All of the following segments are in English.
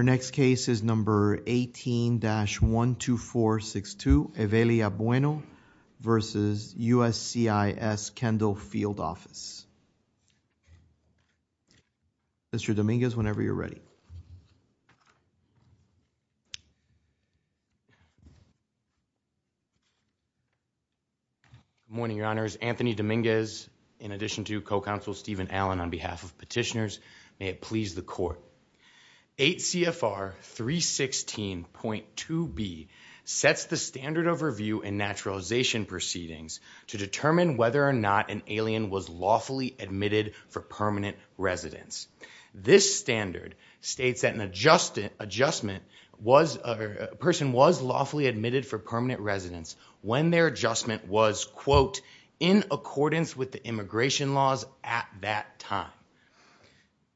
Mr. Dominguez, whenever you're ready. Good morning, Your Honors. Anthony Dominguez, in addition to Co-Counsel Stephen Allen, on behalf of petitioners. May it please the Court. 8 CFR 316.2b sets the standard overview in naturalization proceedings to determine whether or not an alien was lawfully admitted for permanent residence. This standard states that an adjustment was a person was lawfully admitted for permanent residence when their adjustment was, quote, in accordance with the immigration laws at that time.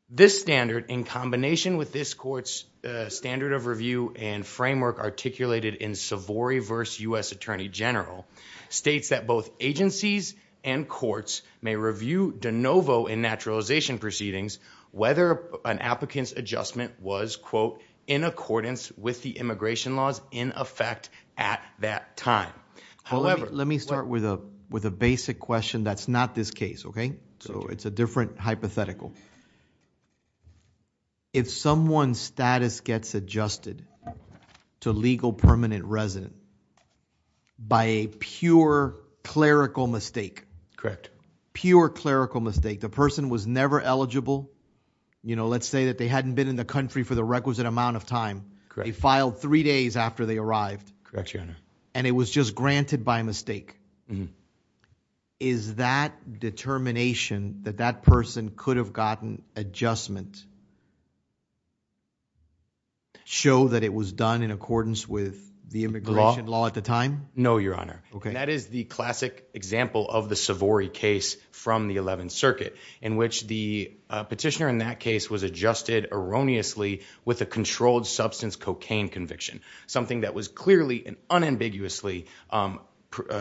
This standard, in combination with this Court's standard of review and framework articulated in Savory v. U.S. Attorney General, states that both agencies and courts may review de novo in naturalization proceedings whether an applicant's adjustment was, quote, in accordance with the immigration laws in effect at that time. However, let me start with a basic question that's not this case, okay? So it's a different hypothetical. If someone's status gets adjusted to legal permanent residence by a pure clerical mistake, pure clerical mistake, the person was never eligible, you know, let's say that they hadn't been in the country for the requisite amount of time, they filed three days after they arrived and it was just granted by mistake. Is that determination that that person could have gotten adjustment show that it was done in accordance with the immigration law at the time? No, Your Honor. Okay. That is the classic example of the Savory case from the 11th Circuit in which the petitioner in that case was adjusted erroneously with a controlled substance cocaine conviction, something that was clearly and unambiguously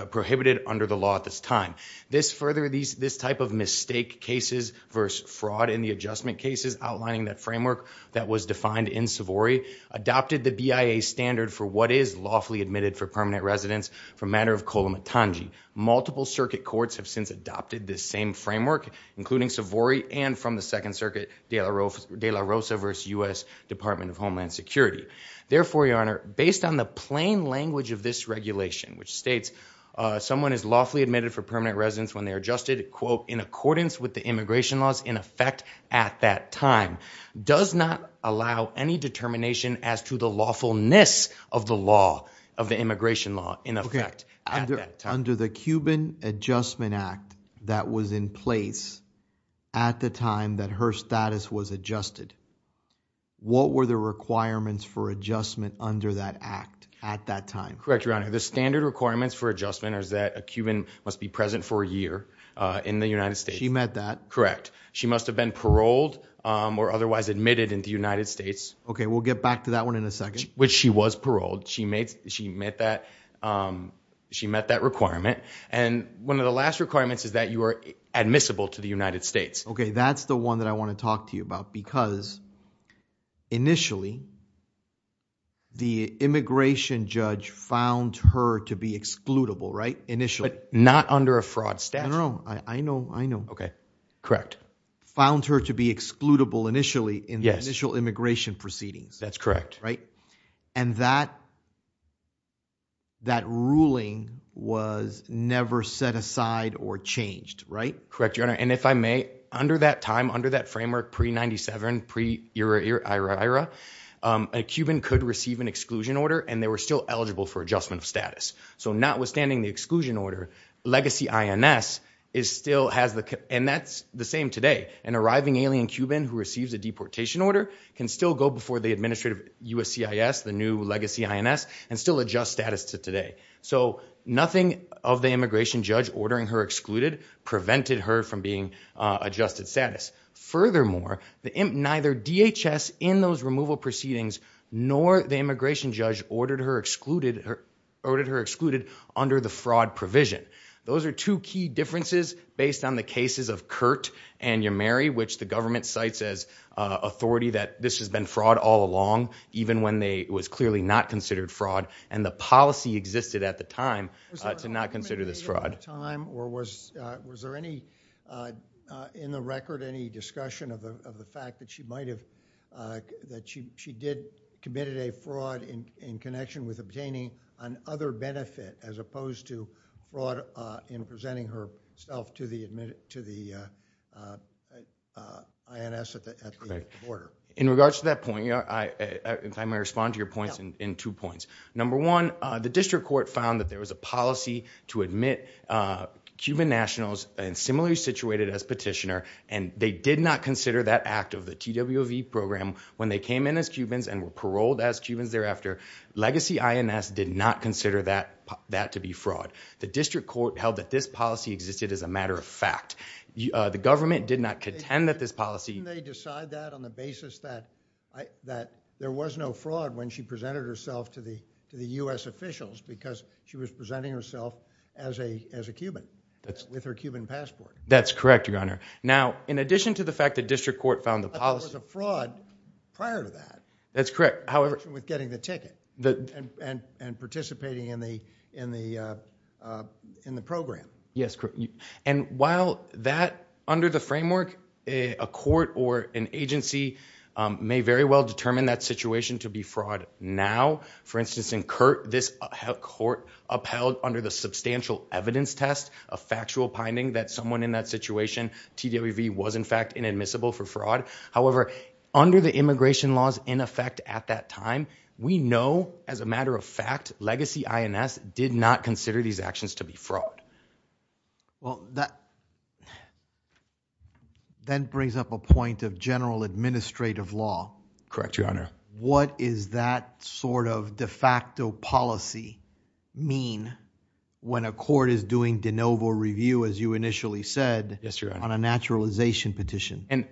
prohibited under the law at this time. This further, this type of mistake cases versus fraud in the adjustment cases outlining that framework that was defined in Savory adopted the BIA standard for what is lawfully admitted for permanent residence for a matter of co-limit tangi. Multiple circuit courts have since adopted this same framework including Savory and from the 2nd Circuit de la Rosa versus U.S. Department of Homeland Security. Therefore, Your Honor, based on the plain language of this regulation which states someone is lawfully admitted for permanent residence when they are adjusted, quote, in accordance with the immigration laws in effect at that time, does not allow any determination as to the lawfulness of the law of the immigration law in effect at that time. Under the Cuban Adjustment Act that was in place at the time that her status was adjusted, what were the requirements for adjustment under that act at that time? Correct, Your Honor. The standard requirements for adjustment is that a Cuban must be present for a year in the United States. She met that. Correct. She must have been paroled or otherwise admitted in the United States. Okay, we'll get back to that one in a second. Which she was paroled. She made, she met that, she met that requirement. And one of the last requirements is that you are admissible to the United States. Okay, that's the one that I want to talk to you about because initially the immigration judge found her to be excludable, right, initially. Not under a fraud statute. I know, I know, I know. Okay, correct. Found her to be excludable initially in the initial immigration proceedings. That's correct. Right? And that, that ruling was never set aside or changed, right? Correct, Your Honor. And if I may, under that time, under that framework, pre-97, pre-era, era, era, a Cuban could receive an exclusion order and they were still eligible for adjustment of status. So notwithstanding the exclusion order, legacy INS is still has the, and that's the same today, an arriving alien Cuban who receives a deportation order can still go before the administrative USCIS, the new legacy INS, and still adjust status to today. So nothing of the immigration judge ordering her excluded prevented her from being adjusted status. Furthermore, the imp neither DHS in those removal proceedings, nor the immigration judge ordered her excluded, or ordered her excluded under the fraud provision. Those are two key differences based on the cases of Kurt and your Mary, which the government sites as a authority that this has been fraud all along, even when they was clearly not committed at the time to not consider this fraud. Was there any, in the record, any discussion of the fact that she might have, that she did committed a fraud in connection with obtaining an other benefit as opposed to fraud in presenting herself to the admin, to the INS at the border? In regards to that point, if I may respond to your points in two points. Number one, the district court found that there was a policy to admit Cuban nationals in similarly situated as petitioner, and they did not consider that act of the TWV program when they came in as Cubans and were paroled as Cubans thereafter. Legacy INS did not consider that to be fraud. The district court held that this policy existed as a matter of fact. The government did not contend that this policy- Didn't they decide that on the basis that there was no fraud when she presented herself to the U.S. officials because she was presenting herself as a Cuban, with her Cuban passport? That's correct, your honor. Now, in addition to the fact that district court found the policy- But there was a fraud prior to that. That's correct, however- In connection with getting the ticket and participating in the program. Yes, and while that, under the framework, a court or an agency may very well determine that situation to be fraud now. For instance, in CURT, this court upheld under the substantial evidence test a factual finding that someone in that situation, TWV, was in fact inadmissible for fraud. However, under the immigration laws in effect at that time, we know as a matter of fact, Legacy INS did not consider these actions to be fraud. Well that then brings up a point of general administrative law. Correct, your honor. What is that sort of de facto policy mean when a court is doing de novo review, as you initially said, on a naturalization petition?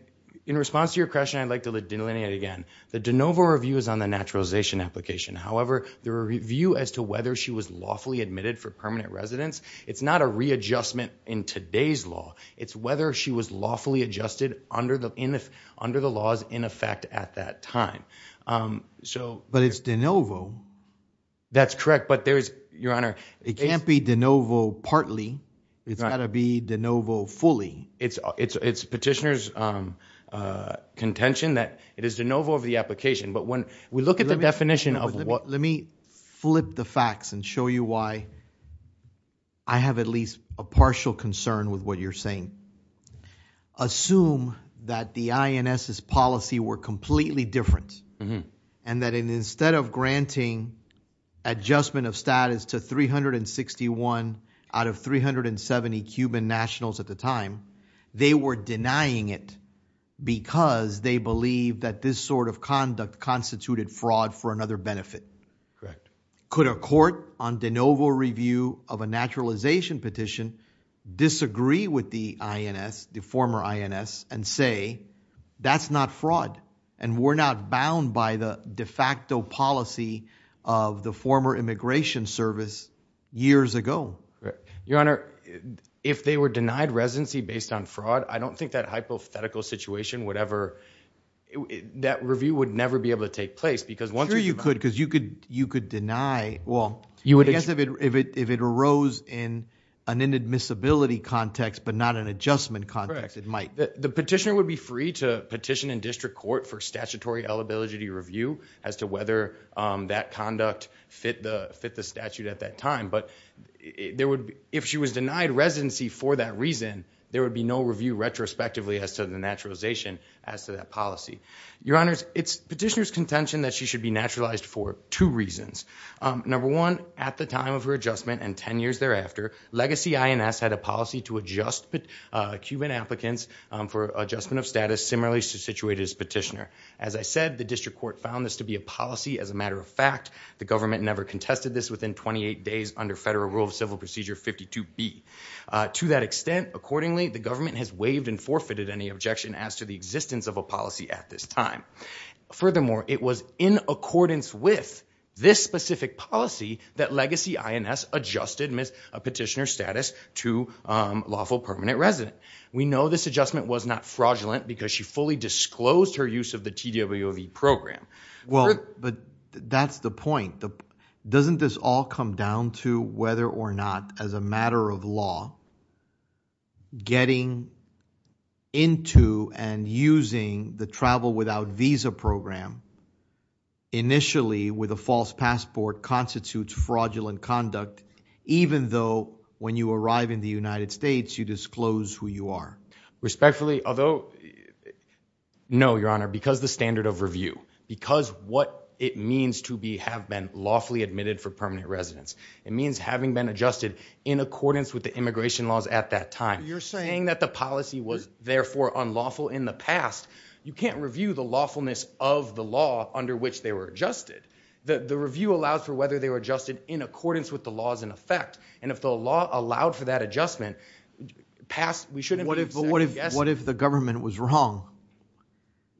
In response to your question, I'd like to delineate it again. The de novo review is on the naturalization application, however, the review as to whether she was lawfully admitted for permanent residence, it's not a readjustment in today's law. It's whether she was lawfully adjusted under the laws in effect at that time. But it's de novo. That's correct, but there's, your honor. It can't be de novo partly, it's got to be de novo fully. It's petitioner's contention that it is de novo of the application, but when we look at the definition of what... Let me flip the facts and show you why I have at least a partial concern with what you're saying. Assume that the INS's policy were completely different, and that instead of granting adjustment of status to 361 out of 370 Cuban nationals at the time, they were denying it because they believe that this sort of conduct constituted fraud for another benefit. Correct. Could a court on de novo review of a naturalization petition disagree with the INS, the former INS, and say, that's not fraud, and we're not bound by the de facto policy of the former immigration service years ago? Your honor, if they were denied residency based on fraud, I don't think that hypothetical situation would ever... That review would never be able to take place because once... You could deny... Well, I guess if it arose in an inadmissibility context, but not an adjustment context, it might. The petitioner would be free to petition in district court for statutory eligibility review as to whether that conduct fit the statute at that time, but if she was denied residency for that reason, there would be no review retrospectively as to the naturalization as to that policy. Your honors, it's petitioner's contention that she should be naturalized for two reasons. Number one, at the time of her adjustment and 10 years thereafter, legacy INS had a policy to adjust Cuban applicants for adjustment of status similarly situated as petitioner. As I said, the district court found this to be a policy as a matter of fact, the government never contested this within 28 days under federal rule of civil procedure 52B. To that extent, accordingly, the government has waived and forfeited any objection as to the existence of a policy at this time. Furthermore, it was in accordance with this specific policy that legacy INS adjusted Ms. Petitioner's status to lawful permanent resident. We know this adjustment was not fraudulent because she fully disclosed her use of the TWOV program. Well, but that's the point. Doesn't this all come down to whether or not as a matter of law, getting into and using the travel without visa program initially with a false passport constitutes fraudulent conduct even though when you arrive in the United States, you disclose who you are? Respectfully, although no, your honor, because the standard of review, because what it means to be have been lawfully admitted for permanent residence, it means having been adjusted in accordance with the immigration laws at that time. You're saying that the policy was therefore unlawful in the past. You can't review the lawfulness of the law under which they were adjusted. The review allows for whether they were adjusted in accordance with the laws in effect. And if the law allowed for that adjustment past, we shouldn't, but what if, what if the government was wrong?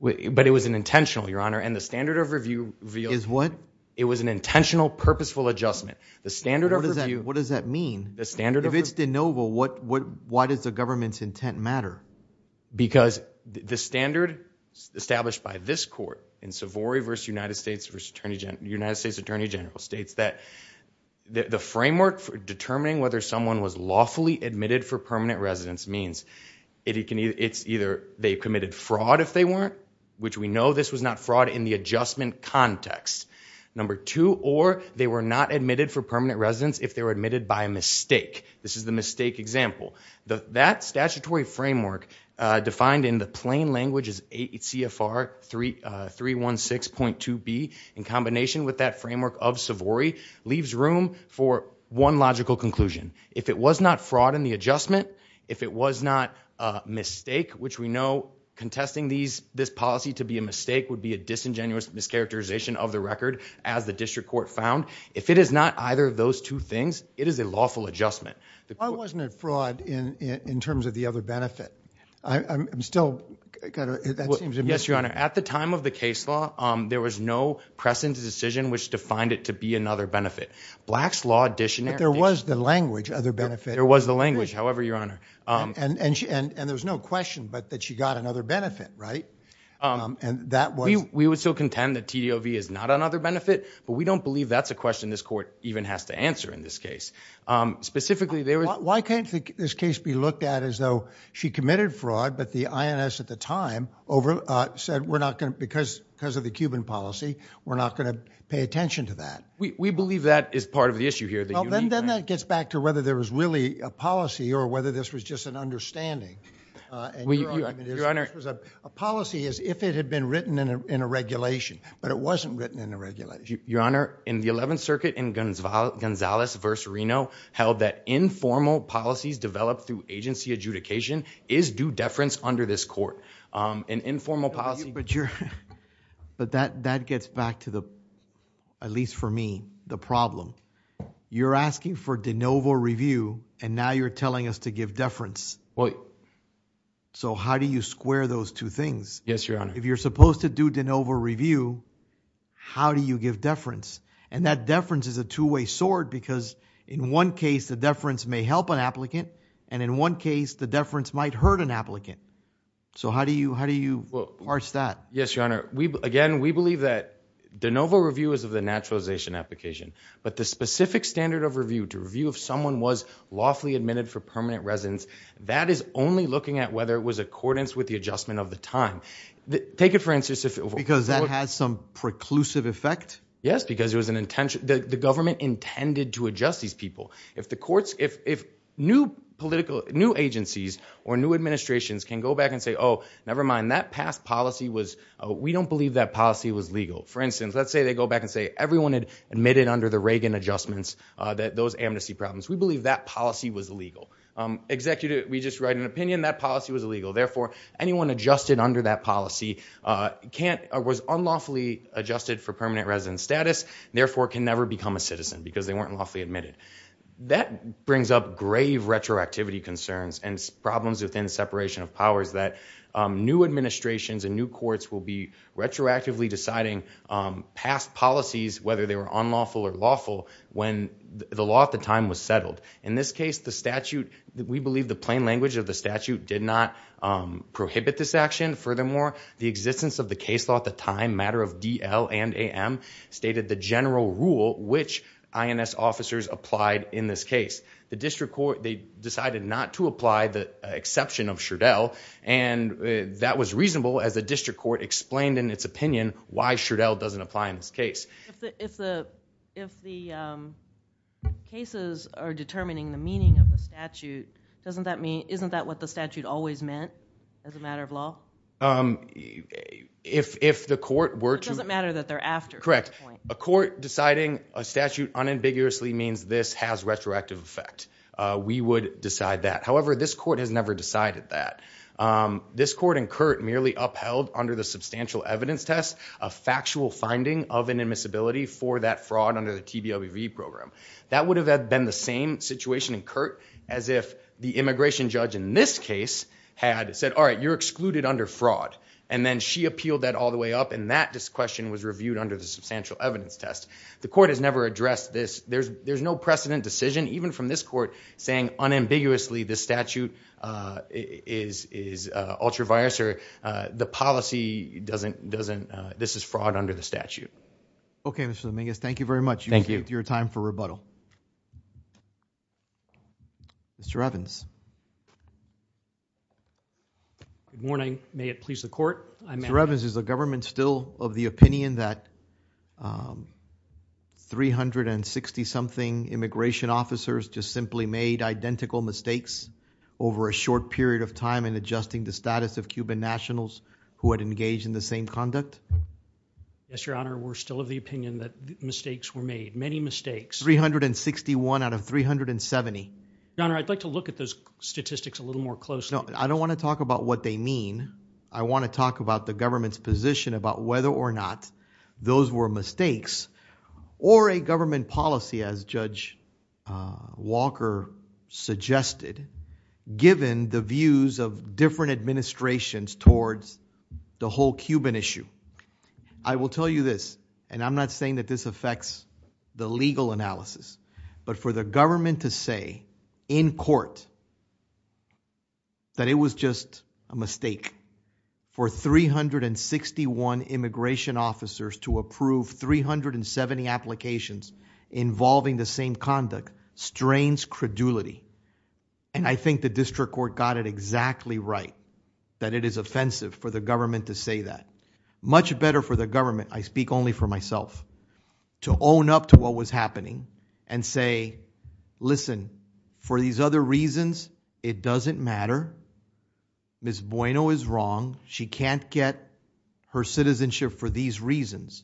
But it was an intentional, your honor. And the standard of review is what? It was an intentional, purposeful adjustment. The standard of review. What does that mean? The standard of review. If it's de novo, why does the government's intent matter? Because the standard established by this court in Savory versus United States Attorney General states that the framework for determining whether someone was lawfully admitted for permanent residence means it's either they committed fraud if they weren't, which we know this was not fraud in the adjustment context. Number two, or they were not admitted for permanent residence if they were admitted by mistake. This is the mistake example. That statutory framework defined in the plain language is CFR 316.2B in combination with that framework of Savory leaves room for one logical conclusion. If it was not fraud in the adjustment, if it was not a mistake, which we know contesting this policy to be a mistake would be a disingenuous mischaracterization of the record as the district court found. If it is not either of those two things, it is a lawful adjustment. Why wasn't it fraud in terms of the other benefit? I'm still kind of, that seems amiss. Yes, your honor. At the time of the case law, there was no precedent decision which defined it to be another benefit. Black's Law Dictionary. But there was the language, other benefit. There was the language, however, your honor. And there was no question but that she got another benefit, right? We would still contend that TDOV is not another benefit, but we don't believe that's a question this court even has to answer in this case. Specifically there was... Why can't this case be looked at as though she committed fraud, but the INS at the time said, because of the Cuban policy, we're not going to pay attention to that? We believe that is part of the issue here. Then that gets back to whether there was really a policy or whether this was just an understanding. A policy is if it had been written in a regulation, but it wasn't written in a regulation. Your honor, in the 11th Circuit, in Gonzales v. Reno, held that informal policies developed through agency adjudication is due deference under this court. An informal policy... But that gets back to the, at least for me, the problem. You're asking for de novo review and now you're telling us to give deference. So how do you square those two things? Yes, your honor. If you're supposed to do de novo review, how do you give deference? And that deference is a two-way sword because in one case the deference may help an applicant and in one case the deference might hurt an applicant. So how do you parse that? Yes, your honor. Again, we believe that de novo review is of the naturalization application, but the specific standard of review, to review if someone was lawfully admitted for permanent residence, that is only looking at whether it was accordance with the adjustment of the time. Take it for instance if... Because that has some preclusive effect? Yes, because it was an intention, the government intended to adjust these people. If the courts... If new agencies or new administrations can go back and say, oh, never mind, that past policy was... We don't believe that policy was legal. For instance, let's say they go back and say everyone admitted under the Reagan adjustments those amnesty problems. We believe that policy was legal. Executive, we just write an opinion, that policy was illegal. Therefore, anyone adjusted under that policy was unlawfully adjusted for permanent residence status, therefore can never become a citizen because they weren't lawfully admitted. That brings up grave retroactivity concerns and problems within separation of powers that new administrations and new courts will be retroactively deciding past policies, whether they were unlawful or lawful when the law at the time was settled. In this case, the statute, we believe the plain language of the statute did not prohibit this action. Furthermore, the existence of the case law at the time, matter of DL and AM, stated the general rule which INS officers applied in this case. The district court, they decided not to apply the exception of Sherdell, and that was reasonable as the district court explained in its opinion why Sherdell doesn't apply in this case. If the cases are determining the meaning of the statute, doesn't that mean... It doesn't matter that they're after. Correct. A court deciding a statute unambiguously means this has retroactive effect. We would decide that. However, this court has never decided that. This court and Curt merely upheld under the substantial evidence test a factual finding of an admissibility for that fraud under the TBLBV program. That would have been the same situation in Curt as if the immigration judge in this case had said, all right, you're excluded under fraud. And then she appealed that all the way up, and that question was reviewed under the substantial evidence test. The court has never addressed this. There's no precedent decision, even from this court, saying unambiguously this statute is ultra-virus, or the policy doesn't... This is fraud under the statute. Okay, Mr. Dominguez, thank you very much. Thank you. Your time for rebuttal. Mr. Evans. Good morning. May it please the court, I'm... Mr. Evans, is the government still of the opinion that 360-something immigration officers just simply made identical mistakes over a short period of time in adjusting the status of Cuban nationals who had engaged in the same conduct? Yes, your honor, we're still of the opinion that mistakes were made, many mistakes. 361 out of 370. Your honor, I'd like to look at those statistics a little more closely. I don't want to talk about what they mean. I want to talk about the government's position about whether or not those were mistakes, or a government policy, as Judge Walker suggested, given the views of different administrations towards the whole Cuban issue. I will tell you this, and I'm not saying that this affects the legal analysis, but for the government to say, in court, that it was just a mistake for 361 immigration officers to approve 370 applications involving the same conduct strains credulity. And I think the district court got it exactly right, that it is offensive for the government to say that. Much better for the government, I speak only for myself, to own up to what was happening and say, listen, for these other reasons, it doesn't matter. Ms. Bueno is wrong. She can't get her citizenship for these reasons.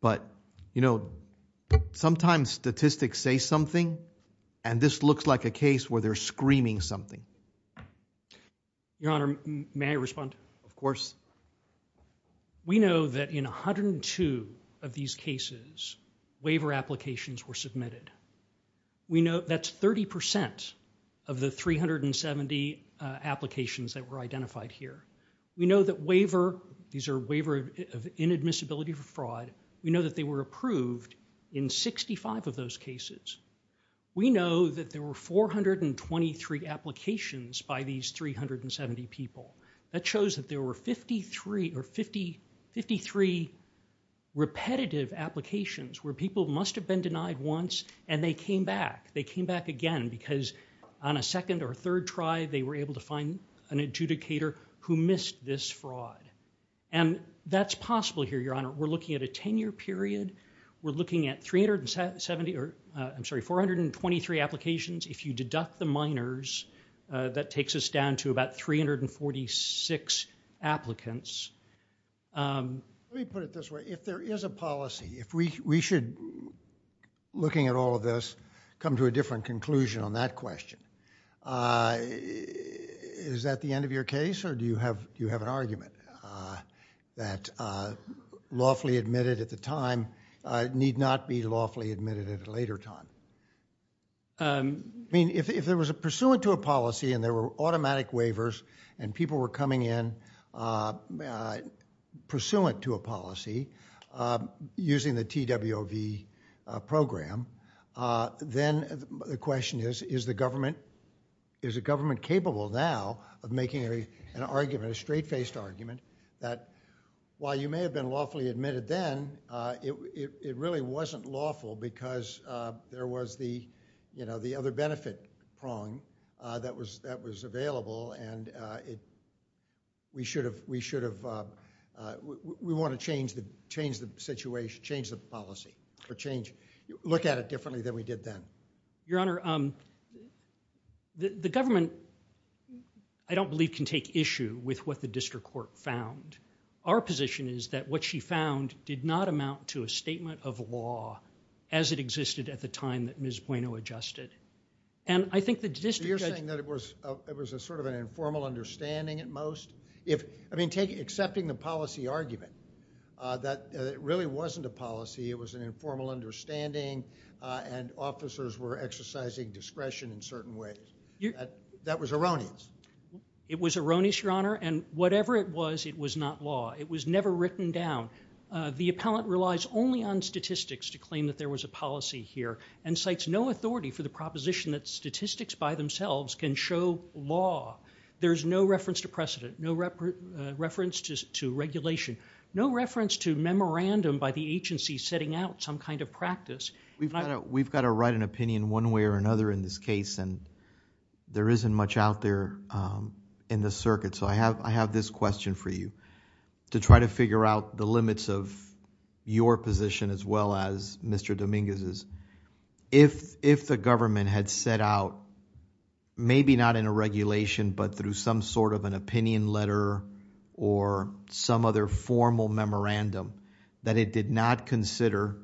But you know, sometimes statistics say something, and this looks like a case where they're screaming something. Your honor, may I respond? Of course. We know that in 102 of these cases, waiver applications were submitted. We know that's 30% of the 370 applications that were identified here. We know that waiver, these are waiver of inadmissibility for fraud, we know that they were approved in 65 of those cases. We know that there were 423 applications by these 370 people. That shows that there were 53 repetitive applications where people must have been denied once and they came back. They came back again because on a second or third try, they were able to find an adjudicator who missed this fraud. And that's possible here, your honor. We're looking at a 10-year period. We're looking at 423 applications. If you deduct the minors, that takes us down to about 346 applicants. Let me put it this way. If there is a policy, if we should, looking at all of this, come to a different conclusion on that question, is that the end of your case or do you have an argument that lawfully admitted at a later time? If there was a pursuant to a policy and there were automatic waivers and people were coming in pursuant to a policy using the TWOV program, then the question is, is the government capable now of making an argument, a straight-faced argument that while you may have been lawfully because there was the, you know, the other benefit prong that was available and we should have, we want to change the situation, change the policy or change, look at it differently than we did then. Your honor, the government, I don't believe, can take issue with what the district court found. Our position is that what she found did not amount to a statement of law as it existed at the time that Ms. Bueno adjusted. I think the district judge... So you're saying that it was sort of an informal understanding at most? Accepting the policy argument that it really wasn't a policy, it was an informal understanding and officers were exercising discretion in certain ways, that was erroneous? It was erroneous, your honor, and whatever it was, it was not law. It was never written down. The appellant relies only on statistics to claim that there was a policy here and cites no authority for the proposition that statistics by themselves can show law. There's no reference to precedent, no reference to regulation, no reference to memorandum by the agency setting out some kind of practice. We've got to write an opinion one way or another in this case and there isn't much out there in the circuit. I have this question for you to try to figure out the limits of your position as well as Mr. Dominguez's. If the government had set out, maybe not in a regulation but through some sort of an opinion letter or some other formal memorandum that it did not consider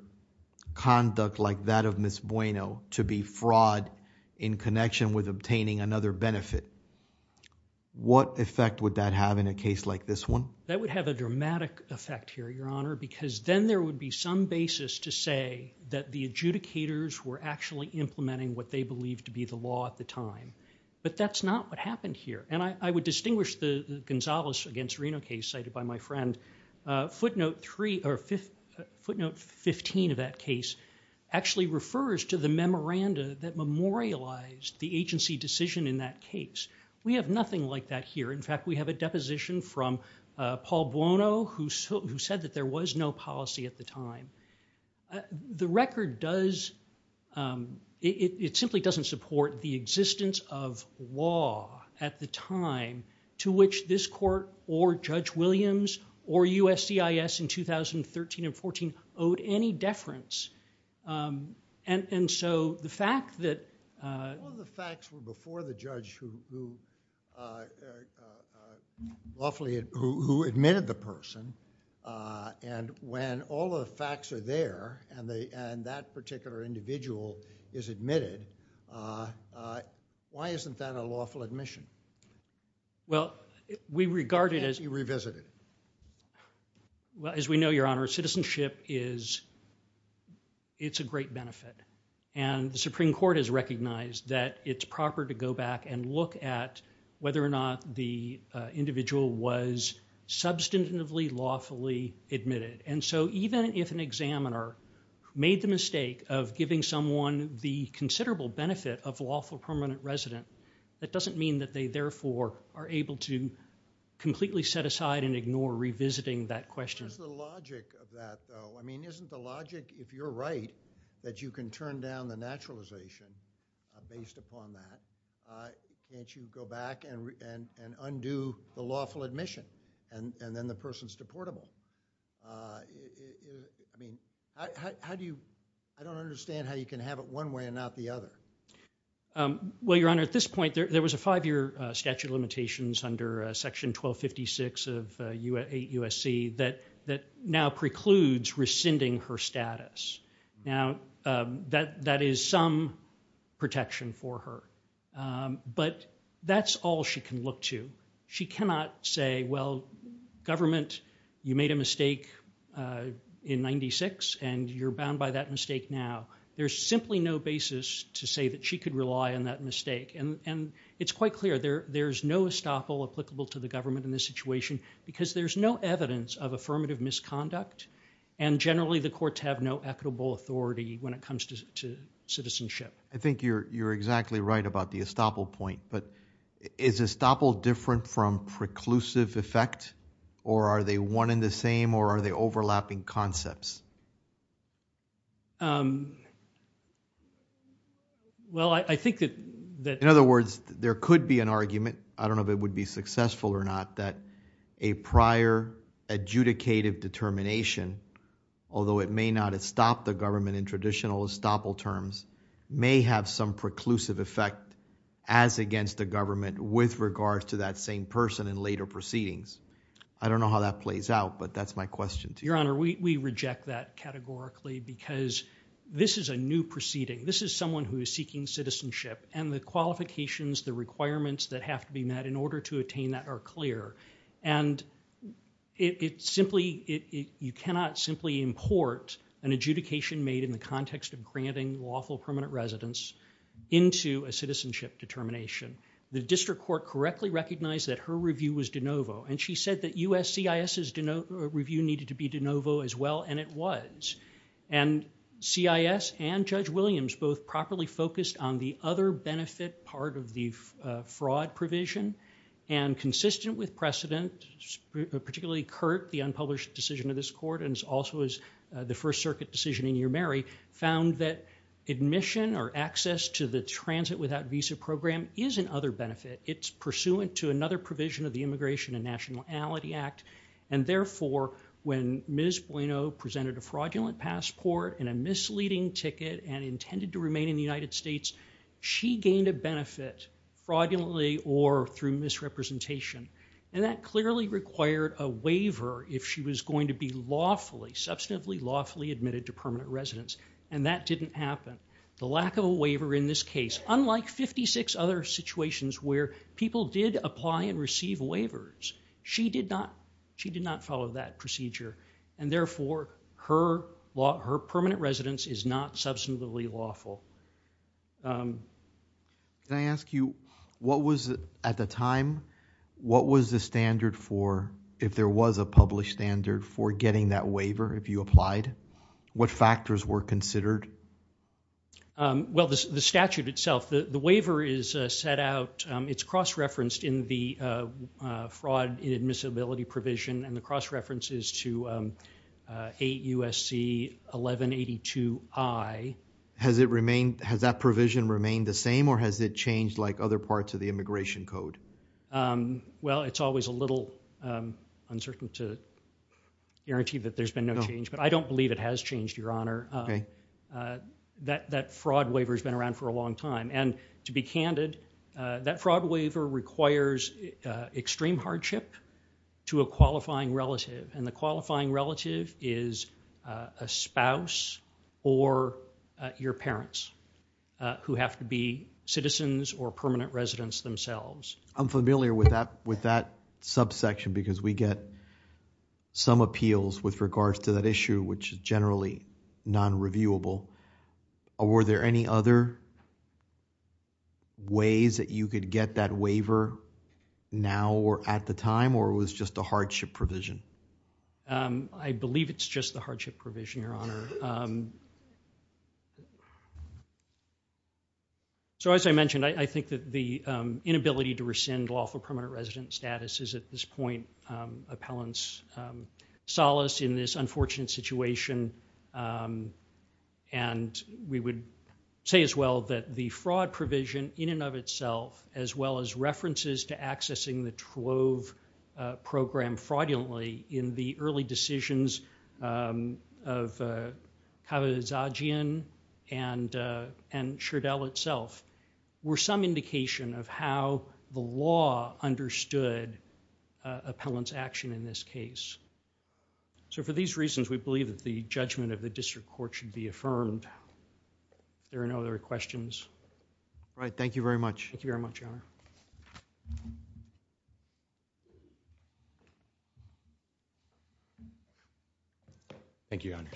conduct like that of Ms. Bueno to be fraud in connection with obtaining another benefit, what effect would that have in a case like this one? That would have a dramatic effect here, your honor, because then there would be some basis to say that the adjudicators were actually implementing what they believed to be the law at the time, but that's not what happened here. I would distinguish the Gonzales against Reno case cited by my friend, footnote 15 of that case, actually refers to the memoranda that memorialized the agency decision in that case. We have nothing like that here. In fact, we have a deposition from Paul Bueno who said that there was no policy at the time. The record does, it simply doesn't support the existence of law at the time to which this court or Judge Williams or USCIS in 2013 and 14 owed any deference. The fact that... One of the facts were before the judge who admitted the person and when all of the facts are there and that particular individual is admitted, why isn't that a lawful admission? Well, we regard it as... Why can't you revisit it? Well, as we know, your honor, citizenship is, it's a great benefit, and the Supreme Court has recognized that it's proper to go back and look at whether or not the individual was substantively lawfully admitted, and so even if an examiner made the mistake of giving someone the considerable benefit of lawful permanent resident, that doesn't mean that they, therefore, are able to completely set aside and ignore revisiting that question. What is the logic of that, though? I mean, isn't the logic, if you're right, that you can turn down the naturalization based upon that, can't you go back and undo the lawful admission, and then the person's deportable? I mean, how do you... I don't understand how you can have it one way and not the other. Well, your honor, at this point, there was a five-year statute of limitations under Section 1256 of 8 U.S.C. that now precludes rescinding her status. Now, that is some protection for her, but that's all she can look to. She cannot say, well, government, you made a mistake in 96, and you're bound by that mistake now. There's simply no basis to say that she could rely on that mistake, and it's quite clear. There's no estoppel applicable to the government in this situation, because there's no evidence of affirmative misconduct, and generally, the courts have no equitable authority when it comes to citizenship. I think you're exactly right about the estoppel point, but is estoppel different from preclusive effect, or are they one and the same, or are they overlapping concepts? Well, I think that... In other words, there could be an argument, I don't know if it would be successful or not, that a prior adjudicative determination, although it may not estop the government in traditional estoppel terms, may have some preclusive effect as against the government with regards to that same person in later proceedings. I don't know how that plays out, but that's my question to you. Your Honor, we reject that categorically, because this is a new proceeding. This is someone who is seeking citizenship, and the qualifications, the requirements that have to be met in order to attain that are clear. And you cannot simply import an adjudication made in the context of granting lawful permanent residence into a citizenship determination. The district court correctly recognized that her review was de novo, and she said that USCIS's review needed to be de novo as well, and it was. And CIS and Judge Williams both properly focused on the other benefit part of the fraud provision, and consistent with precedent, particularly Curt, the unpublished decision of this court, and also the First Circuit decision in Your Mary, found that admission or access to the transit without visa program is an other benefit. It's pursuant to another provision of the Immigration and Nationality Act, and therefore when Ms. Bueno presented a fraudulent passport and a misleading ticket and intended to remain in the United States, she gained a benefit, fraudulently or through misrepresentation, and that clearly required a waiver if she was going to be lawfully, substantively lawfully admitted to permanent residence, and that didn't happen. The lack of a waiver in this case, unlike 56 other situations where people did apply and receive waivers, she did not follow that procedure, and therefore her permanent residence is not substantively lawful. Can I ask you, what was, at the time, what was the standard for, if there was a published standard for getting that waiver if you applied? What factors were considered? Well, the statute itself, the waiver is set out, it's cross-referenced in the fraud admissibility provision, and the cross-reference is to 8 U.S.C. 1182I. Has it remained, has that provision remained the same, or has it changed like other parts of the Immigration Code? Well, it's always a little uncertain to guarantee that there's been no change, but I don't believe it has changed, Your Honor. That fraud waiver's been around for a long time, and to be candid, that fraud waiver requires extreme hardship to a qualifying relative, and the qualifying relative is a spouse or your parents, who have to be citizens or permanent residents themselves. I'm familiar with that subsection, because we get some appeals with regards to that issue, which is generally non-reviewable. Were there any other ways that you could get that waiver now or at the time, or was it just a hardship provision? I believe it's just the hardship provision, Your Honor. So, as I mentioned, I think that the inability to rescind lawful permanent resident status is at this point appellant's solace in this unfortunate situation. We would say, as well, that the fraud provision in and of itself, as well as references to accessing the Trove program fraudulently in the early decisions of Kavazagian and Schardell itself, were some indication of how the law understood appellant's action in this case. So, for these reasons, we believe that the judgment of the district court should be affirmed. If there are no other questions... All right. Thank you very much. Thank you very much, Your Honor. Thank you, Your Honor.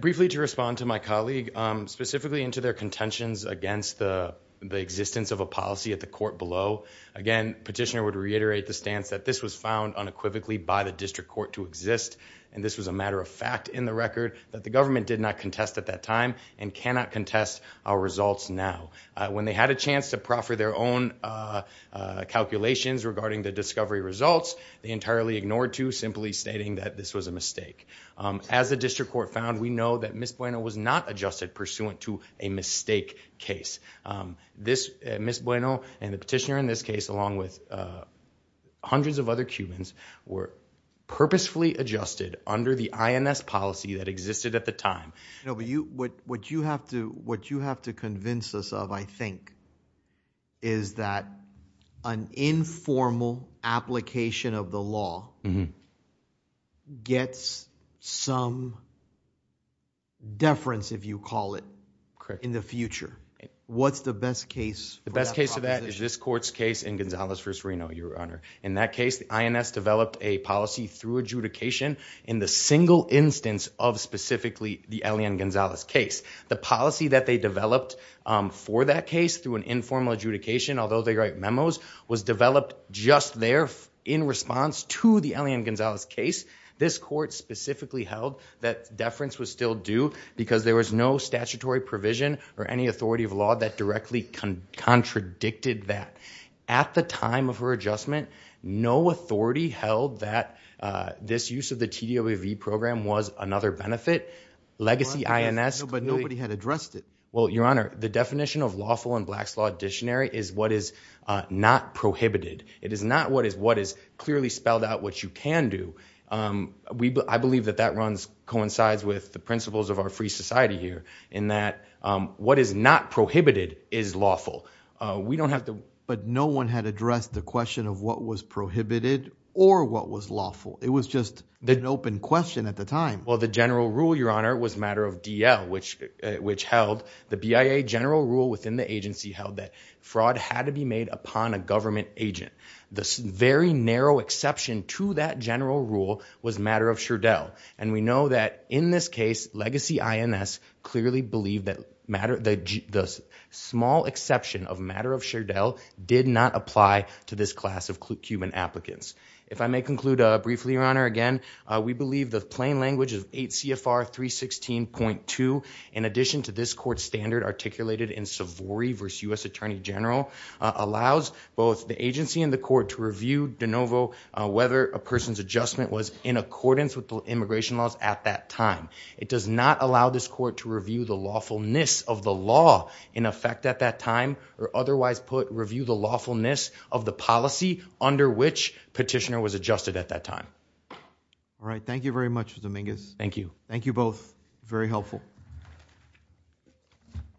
Briefly to respond to my colleague, specifically into their contentions against the existence of a policy at the court below, again, Petitioner would reiterate the stance that this was found unequivocally by the district court to exist, and this was a matter of fact in the record that the government did not contest at that time and cannot contest our results now. When they had a chance to proffer their own calculations regarding the discovery results, they entirely ignored to, simply stating that this was a mistake. As the district court found, we know that Ms. Bueno was not adjusted pursuant to a mistake case. Ms. Bueno and the petitioner in this case, along with hundreds of other Cubans, were purposefully adjusted under the INS policy that existed at the time. What you have to convince us of, I think, is that an informal application of the law gets some deference, if you call it, in the future. What's the best case? The best case of that is this court's case in Gonzalez v. Reno, Your Honor. In that case, the INS developed a policy through adjudication in the single instance of specifically the Elian Gonzalez case. The policy that they developed for that case through an informal adjudication, although they write memos, was developed just there in response to the Elian Gonzalez case. This court specifically held that deference was still due because there was no statutory provision or any authority of law that directly contradicted that. At the time of her adjustment, no authority held that this use of the TDOV program was another benefit. Legacy INS... But nobody had addressed it. Well, Your Honor, the definition of lawful in Black's Law Dictionary is what is not prohibited. It is not what is clearly spelled out what you can do. I believe that that runs, coincides with the principles of our free society here, in that what is not prohibited is lawful. We don't have to... But no one had addressed the question of what was prohibited or what was lawful. It was just an open question at the time. Well, the general rule, Your Honor, was matter of DL, which held... the BIA general rule within the agency held that fraud had to be made upon a government agent. The very narrow exception to that general rule was matter of Chardelle. And we know that in this case, Legacy INS clearly believed that the small exception of matter of Chardelle did not apply to this class of Cuban applicants. If I may conclude briefly, Your Honor, again, we believe the plain language of 8 CFR 316.2, in addition to this court standard articulated in Savory v. U.S. Attorney General, allows both the agency and the court to review de novo whether a person's adjustment was in accordance with the immigration laws at that time. It does not allow this court to review the lawfulness of the law in effect at that time or otherwise review the lawfulness of the policy under which petitioner was adjusted at that time. All right. Thank you very much, Mr. Mingus. Thank you. Thank you both.